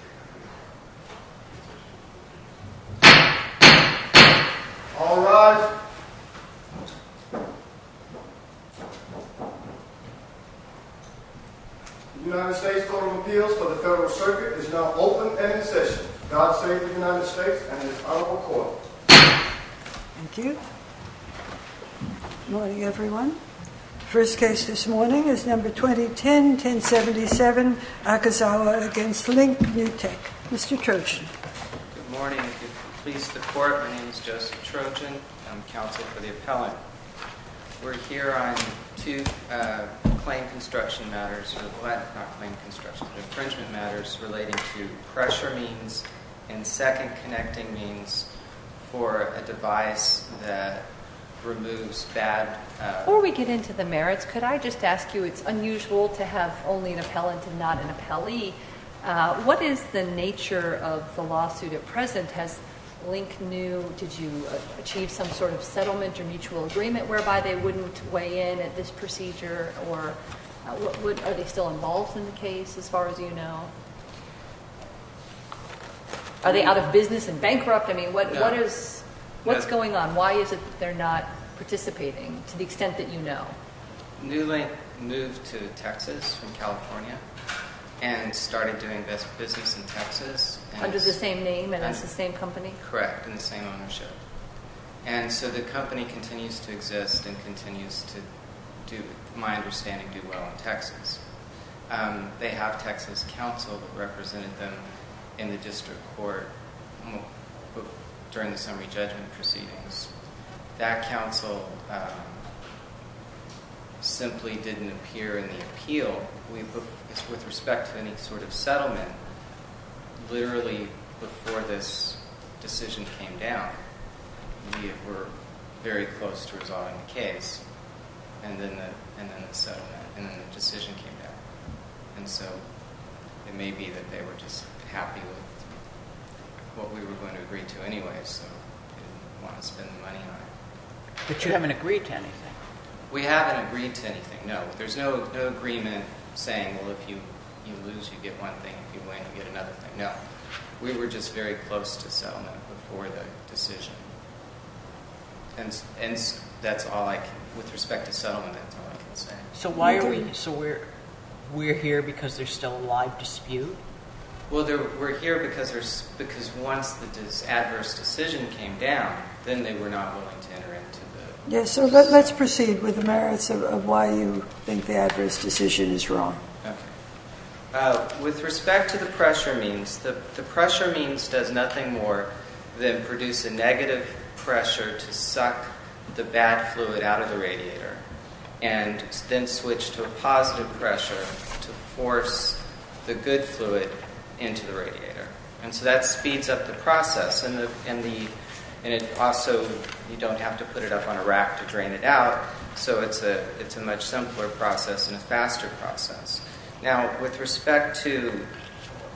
The United States Court of Appeals for the Federal Circuit is now open and in session. God save the United States and His Honorable Court. Thank you. Good morning everyone. First case this morning is number 2010-1077 Akazawa v. LINK NEW TECH. Mr. Trojan. Good morning. Please support. My name is Joseph Trojan. I'm counsel for the appellant. We're here on two claim construction matters, not claim construction, infringement matters relating to pressure means and second connecting means for a device that removes bad. Before we get into the merits, could I just ask you, it's unusual to have only an appellant and not an appellee. What is the nature of the lawsuit at present? Has LINK NEW, did you achieve some sort of settlement or mutual agreement whereby they wouldn't weigh in at this procedure? Are they still involved in the case as far as you know? Are they out of business and bankrupt? What's going on? Why is it that they're not participating to the extent that you know? New Link moved to Texas from California and started doing business in Texas. Under the same name and as the same company? Correct. And the same ownership. And so the company continues to exist and continues to, to my understanding, do well in Texas. Um, they have Texas counsel that represented them in the district court during the summary judgment proceedings. That counsel, um, simply didn't appear in the appeal with respect to any sort of settlement. Literally before this decision came down, we were very close to resolving the case and then the settlement and then the decision came down. And so it may be that they were just happy with what we were going to agree to anyway, so they didn't want to spend the money on it. But you haven't agreed to anything. We haven't agreed to anything. No, there's no agreement saying, well, if you lose, you get one thing. If you win, you get another thing. No, we were just very close to settlement before the decision. And that's all I can, with respect to settlement, that's all I can say. So why are we, so we're, we're here because there's still a live dispute? Well, we're here because there's, because once the adverse decision came down, then they were not willing to enter into the. So let's proceed with the merits of why you think the adverse decision is wrong. With respect to the pressure means, the pressure means does nothing more than produce a negative pressure to suck the bad fluid out of the radiator and then switch to a positive pressure to force the good fluid into the radiator. And so that speeds up the process, and it also, you don't have to put it up on a rack to drain it out, so it's a much simpler process and a faster process. Now, with respect to,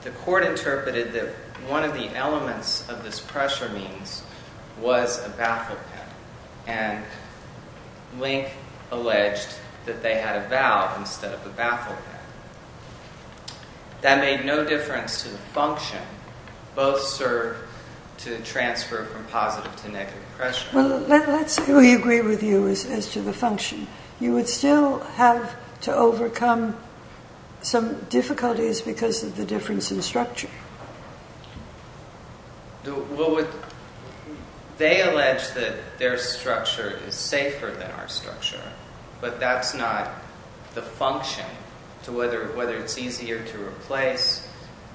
the court interpreted that one of the elements of this pressure means was a baffle pen, and Link alleged that they had a valve instead of a baffle pen. That made no difference to the function. Both serve to transfer from positive to negative pressure. Well, let's say we agree with you as to the function. You would still have to overcome some difficulties because of the difference in structure. Well, they allege that their structure is safer than our structure, but that's not the function. So whether it's easier to replace,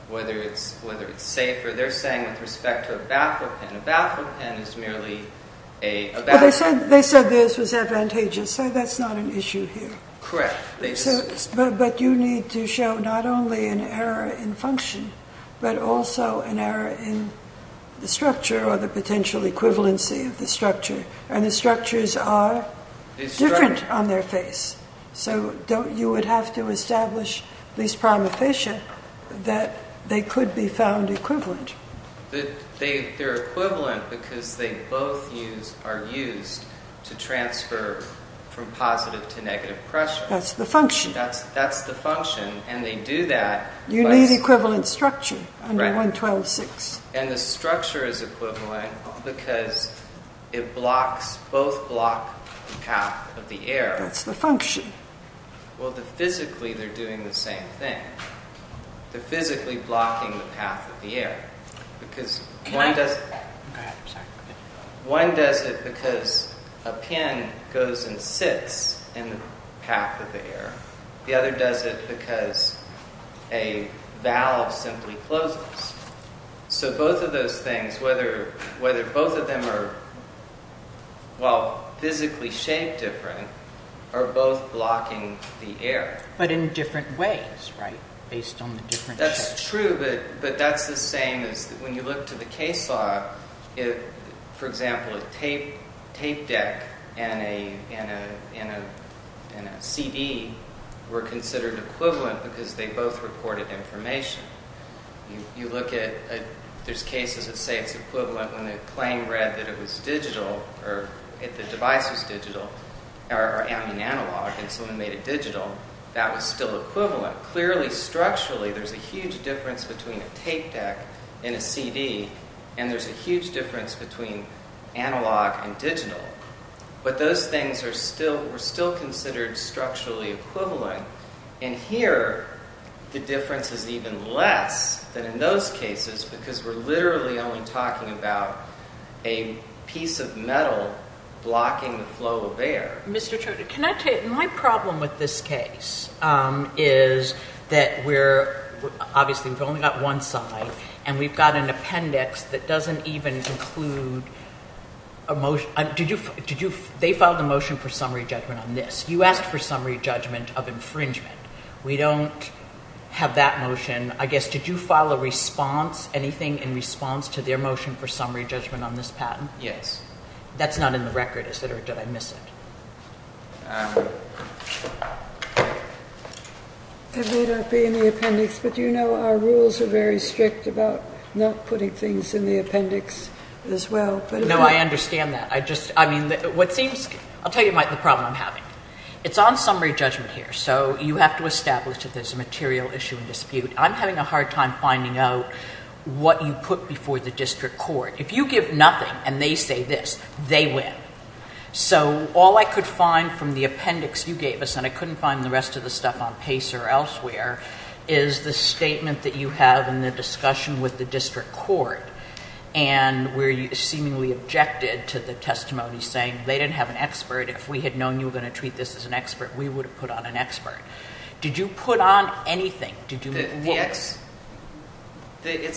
whether it's safer, they're saying with respect to a baffle pen, a baffle pen is merely a baffle pen. But they said theirs was advantageous, so that's not an issue here. Correct. But you need to show not only an error in function, but also an error in the structure or the potential equivalency of the structure. And the structures are different on their face. So you would have to establish, at least prima facie, that they could be found equivalent. They're equivalent because they both are used to transfer from positive to negative pressure. That's the function. That's the function, and they do that. You need equivalent structure under 112.6. And the structure is equivalent because it blocks, both block the path of the air. That's the function. Well, physically they're doing the same thing. They're physically blocking the path of the air. One does it because a pen goes and sits in the path of the air. The other does it because a valve simply closes. So both of those things, whether both of them are, well, physically shaped different, are both blocking the air. But in different ways, right? Based on the different shapes. That's true, but that's the same as when you look to the case law. For example, a tape deck and a CD were considered equivalent because they both recorded information. You look at, there's cases that say it's equivalent when the plane read that it was digital, or the device was digital, or I mean analog, and someone made it digital. That was still equivalent. Clearly, structurally, there's a huge difference between a tape deck and a CD, and there's a huge difference between analog and digital. But those things were still considered structurally equivalent. And here, the difference is even less than in those cases because we're literally only talking about a piece of metal blocking the flow of air. My problem with this case is that we're, obviously, we've only got one side, and we've got an appendix that doesn't even include a motion. They filed a motion for summary judgment on this. You asked for summary judgment of infringement. We don't have that motion. I guess, did you file a response, anything in response to their motion for summary judgment on this patent? Yes. That's not in the record, is it, or did I miss it? It may not be in the appendix, but you know our rules are very strict about not putting things in the appendix as well. No, I understand that. I just, I mean, what seems, I'll tell you the problem I'm having. It's on summary judgment here, so you have to establish that there's a material issue and dispute. I'm having a hard time finding out what you put before the district court. If you give nothing and they say this, they win. So all I could find from the appendix you gave us, and I couldn't find the rest of the stuff on PACER or elsewhere, is the statement that you have in the discussion with the district court, and where you seemingly objected to the testimony saying they didn't have an expert. If we had known you were going to treat this as an expert, we would have put on an expert. Did you put on anything? There's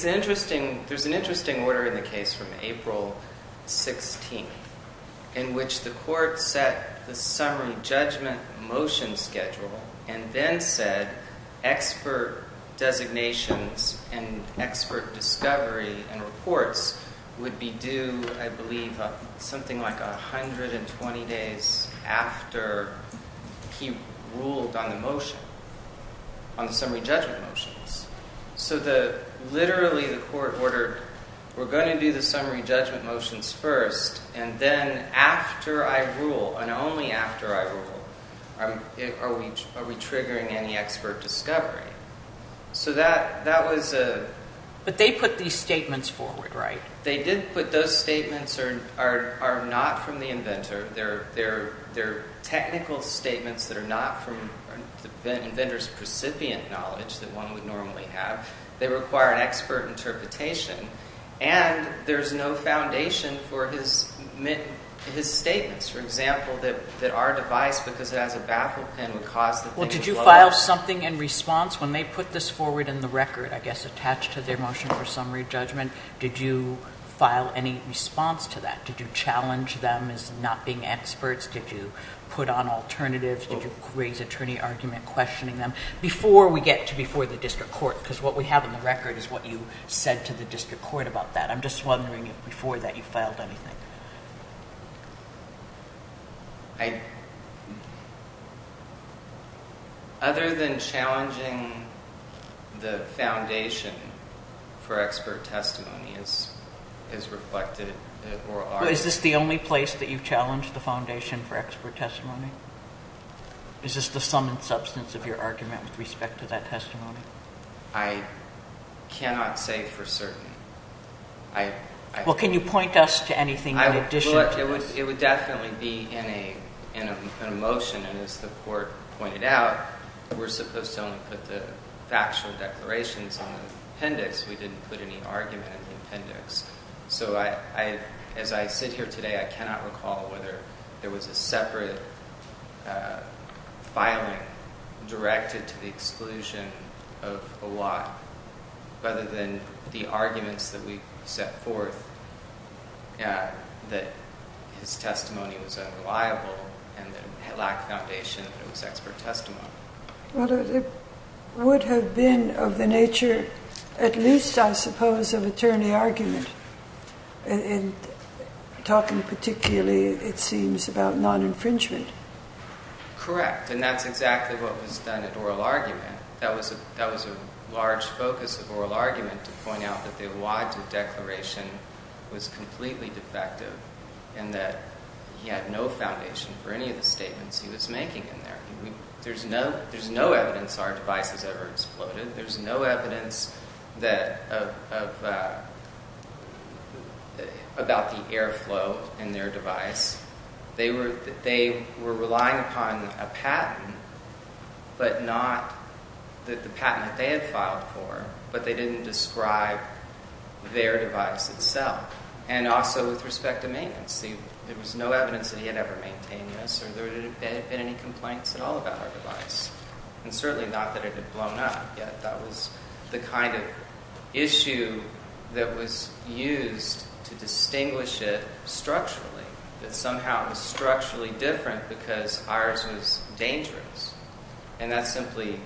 an interesting order in the case from April 16th in which the court set the summary judgment motion schedule and then said expert designations and expert discovery and reports would be due, I believe, something like 120 days after he ruled on the motion, on the summary judgment motions. So literally the court ordered, we're going to do the summary judgment motions first, and then after I rule, and only after I rule, are we triggering any expert discovery. So that was a... But they put these statements forward, right? They did put those statements are not from the inventor. They're technical statements that are not from the inventor's precipient knowledge that one would normally have. They require an expert interpretation, and there's no foundation for his statements. For example, that our device, because it has a baffle pin, would cause the thing to blow up. Well, did you file something in response when they put this forward in the record, I guess, attached to their motion for summary judgment? Did you file any response to that? Did you challenge them as not being experts? Did you put on alternatives? Did you raise attorney argument questioning them before we get to before the district court? Because what we have in the record is what you said to the district court about that. I'm just wondering if before that you filed anything. I... Other than challenging the foundation for expert testimony is reflected in oral argument. Is this the only place that you've challenged the foundation for expert testimony? Is this the sum and substance of your argument with respect to that testimony? I cannot say for certain. Well, can you point us to anything in addition to this? It would definitely be in a motion, and as the court pointed out, we're supposed to only put the factual declarations on the appendix. We didn't put any argument in the appendix. So as I sit here today, I cannot recall whether there was a separate filing directed to the exclusion of a lot, other than the arguments that we set forth that his testimony was unreliable and that it lacked foundation that it was expert testimony. Well, it would have been of the nature at least, I suppose, of attorney argument. And talking particularly, it seems, about non-infringement. Correct, and that's exactly what was done at oral argument. That was a large focus of oral argument to point out that the Wadsworth Declaration was completely defective and that he had no foundation for any of the statements he was making in there. There's no evidence our device has ever exploded. There's no evidence about the airflow in their device. They were relying upon a patent, but not the patent that they had filed for, but they didn't describe their device itself. And also with respect to maintenance. There was no evidence that he had ever maintained this, or there had been any complaints at all about our device. And certainly not that it had blown up, that was the kind of issue that was used to distinguish it structurally, that somehow it was structurally different because ours was dangerous. And that simply,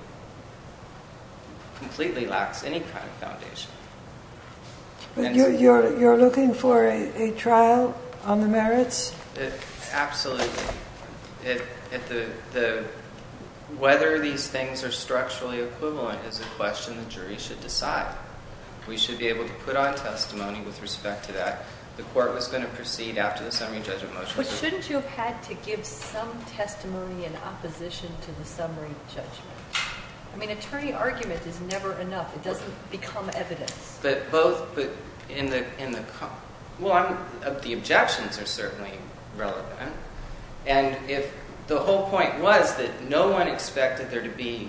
completely lacks any kind of foundation. You're looking for a trial on the merits? Absolutely. Whether these things are structurally equivalent is a question the jury should decide. We should be able to put on testimony with respect to that. The court was going to proceed after the summary judgment motion. But shouldn't you have had to give some testimony in opposition to the summary judgment? I mean, attorney argument is never enough. It doesn't become evidence. Well, the objections are certainly relevant. And the whole point was that no one expected there to be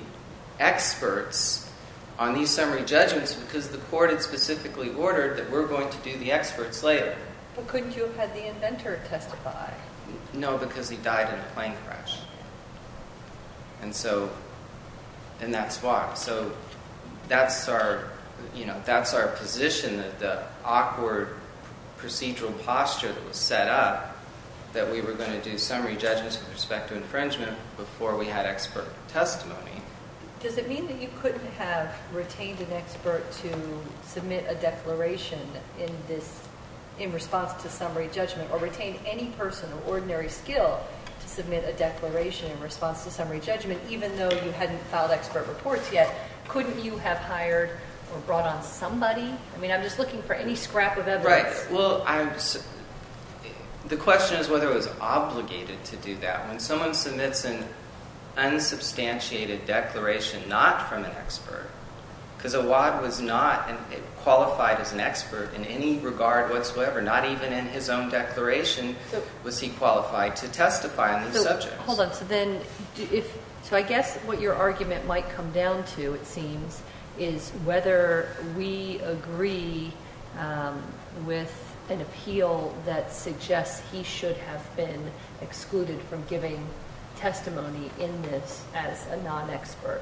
experts on these summary judgments because the court had specifically ordered that we're going to do the experts later. But couldn't you have had the inventor testify? No, because he died in a plane crash. And that's why. So that's our position that the awkward procedural posture that was set up, that we were going to do summary judgments with respect to infringement before we had expert testimony. Does it mean that you couldn't have retained an expert to submit a declaration in response to summary judgment or retained any person of ordinary skill to submit a declaration in response to summary judgment even though you hadn't filed expert reports yet? Couldn't you have hired or brought on somebody? I mean, I'm just looking for any scrap of evidence. Right. Well, the question is whether it was obligated to do that. When someone submits an unsubstantiated declaration not from an expert, because Awad was not qualified as an expert in any regard whatsoever, not even in his own declaration was he qualified to testify on these subjects. Hold on. So I guess what your argument might come down to, it seems, is whether we agree with an appeal that suggests he should have been excluded from giving testimony in this as a non-expert.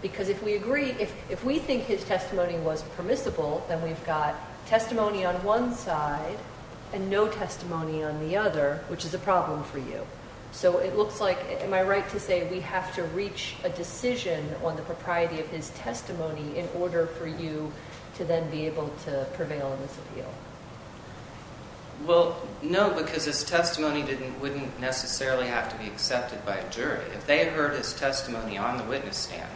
Because if we agree, if we think his testimony was permissible, then we've got testimony on one side and no testimony on the other, which is a problem for you. So it looks like, am I right to say we have to reach a decision on the propriety of his testimony in order for you to then be able to prevail in this appeal? Well, no, because his testimony wouldn't necessarily have to be accepted by a jury. If they had heard his testimony on the witness stand,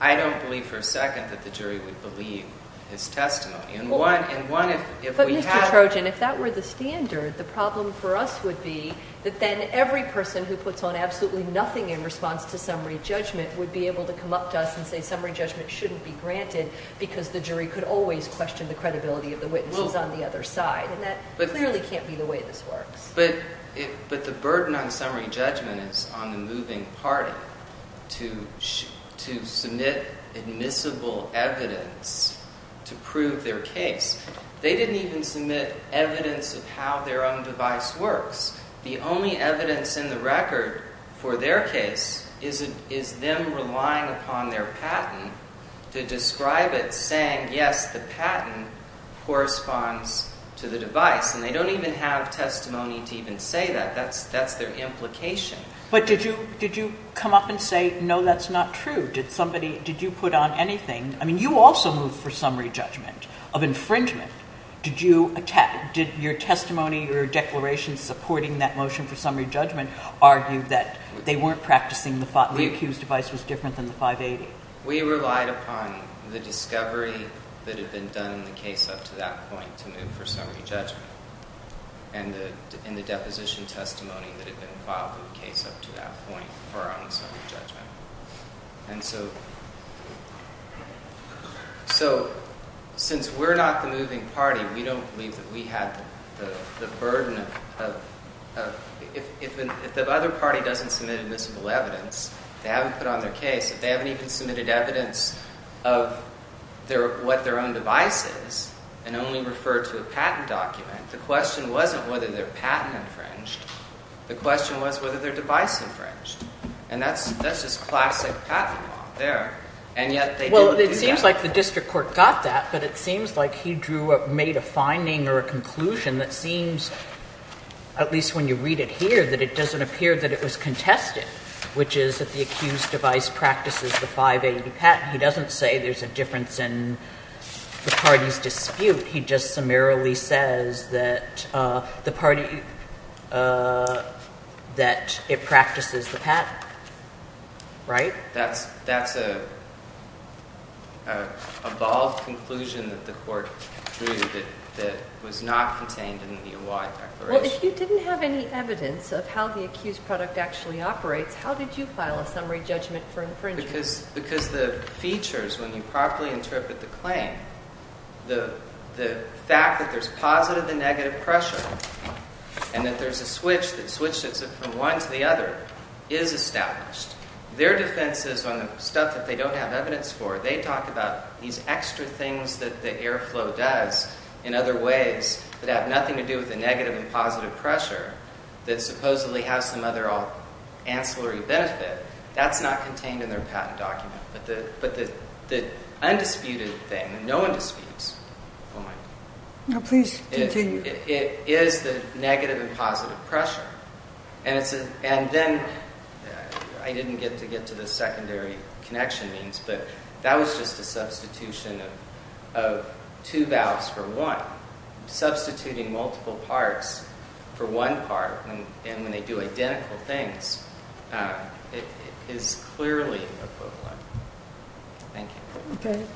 I don't believe for a second that the jury would believe his testimony. But Mr. Trojan, if that were the standard, the problem for us would be that then every person who puts on absolutely nothing in response to summary judgment would be able to come up to us and say summary judgment shouldn't be granted because the jury could always question the credibility of the witnesses on the other side. And that clearly can't be the way this works. But the burden on summary judgment is on the moving party to submit admissible evidence to prove their case. They didn't even submit evidence of how their own device works. The only evidence in the record for their case is them relying upon their patent to describe it saying, yes, the patent corresponds to the device. And they don't even have testimony to even say that. That's their implication. But did you come up and say, no, that's not true? Did you put on anything? I mean, you also moved for summary judgment of infringement. Did your testimony or your declaration supporting that motion for summary judgment argue that they weren't practicing the thought the accused device was different than the 580? We relied upon the discovery that had been done in the case up to that point to move for summary judgment. And the deposition testimony that had been filed in the case up to that point were on the summary judgment. So since we're not the moving party, we don't believe that we have the burden of if the other party doesn't submit admissible evidence, they haven't put on their case, if they haven't even submitted evidence of what their own device is and only refer to a patent document, the question wasn't whether their patent infringed. The question was whether their device infringed. And that's just classic patent law there. And yet they didn't do that. Well, it seems like the district court got that, but it seems like he made a finding or a conclusion that seems, at least when you read it here, that it doesn't appear that it was contested, which is that the accused device practices the 580 patent. He doesn't say there's a difference in the party's dispute. He just summarily says that the party, that it practices the patent, right? That's an evolved conclusion that the court drew that was not contained in the award declaration. Well, if you didn't have any evidence of how the accused product actually operates, how did you file a summary judgment for infringement? Because the features, when you properly interpret the claim, the fact that there's positive and negative pressure and that there's a switch that switches it from one to the other is established. Their defenses on the stuff that they don't have evidence for, they talk about these extra things that the airflow does in other ways that have nothing to do with the negative and positive pressure that supposedly has some other ancillary benefit. That's not contained in their patent document. But the undisputed thing, no one disputes. Oh, my. No, please continue. It is the negative and positive pressure. And then I didn't get to get to the secondary connection means, but that was just a substitution of two valves for one, substituting multiple parts for one part. And when they do identical things, it is clearly equivalent. Thank you. Okay.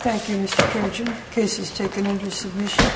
Thank you, Mr. Kirchner. The case is taken into submission.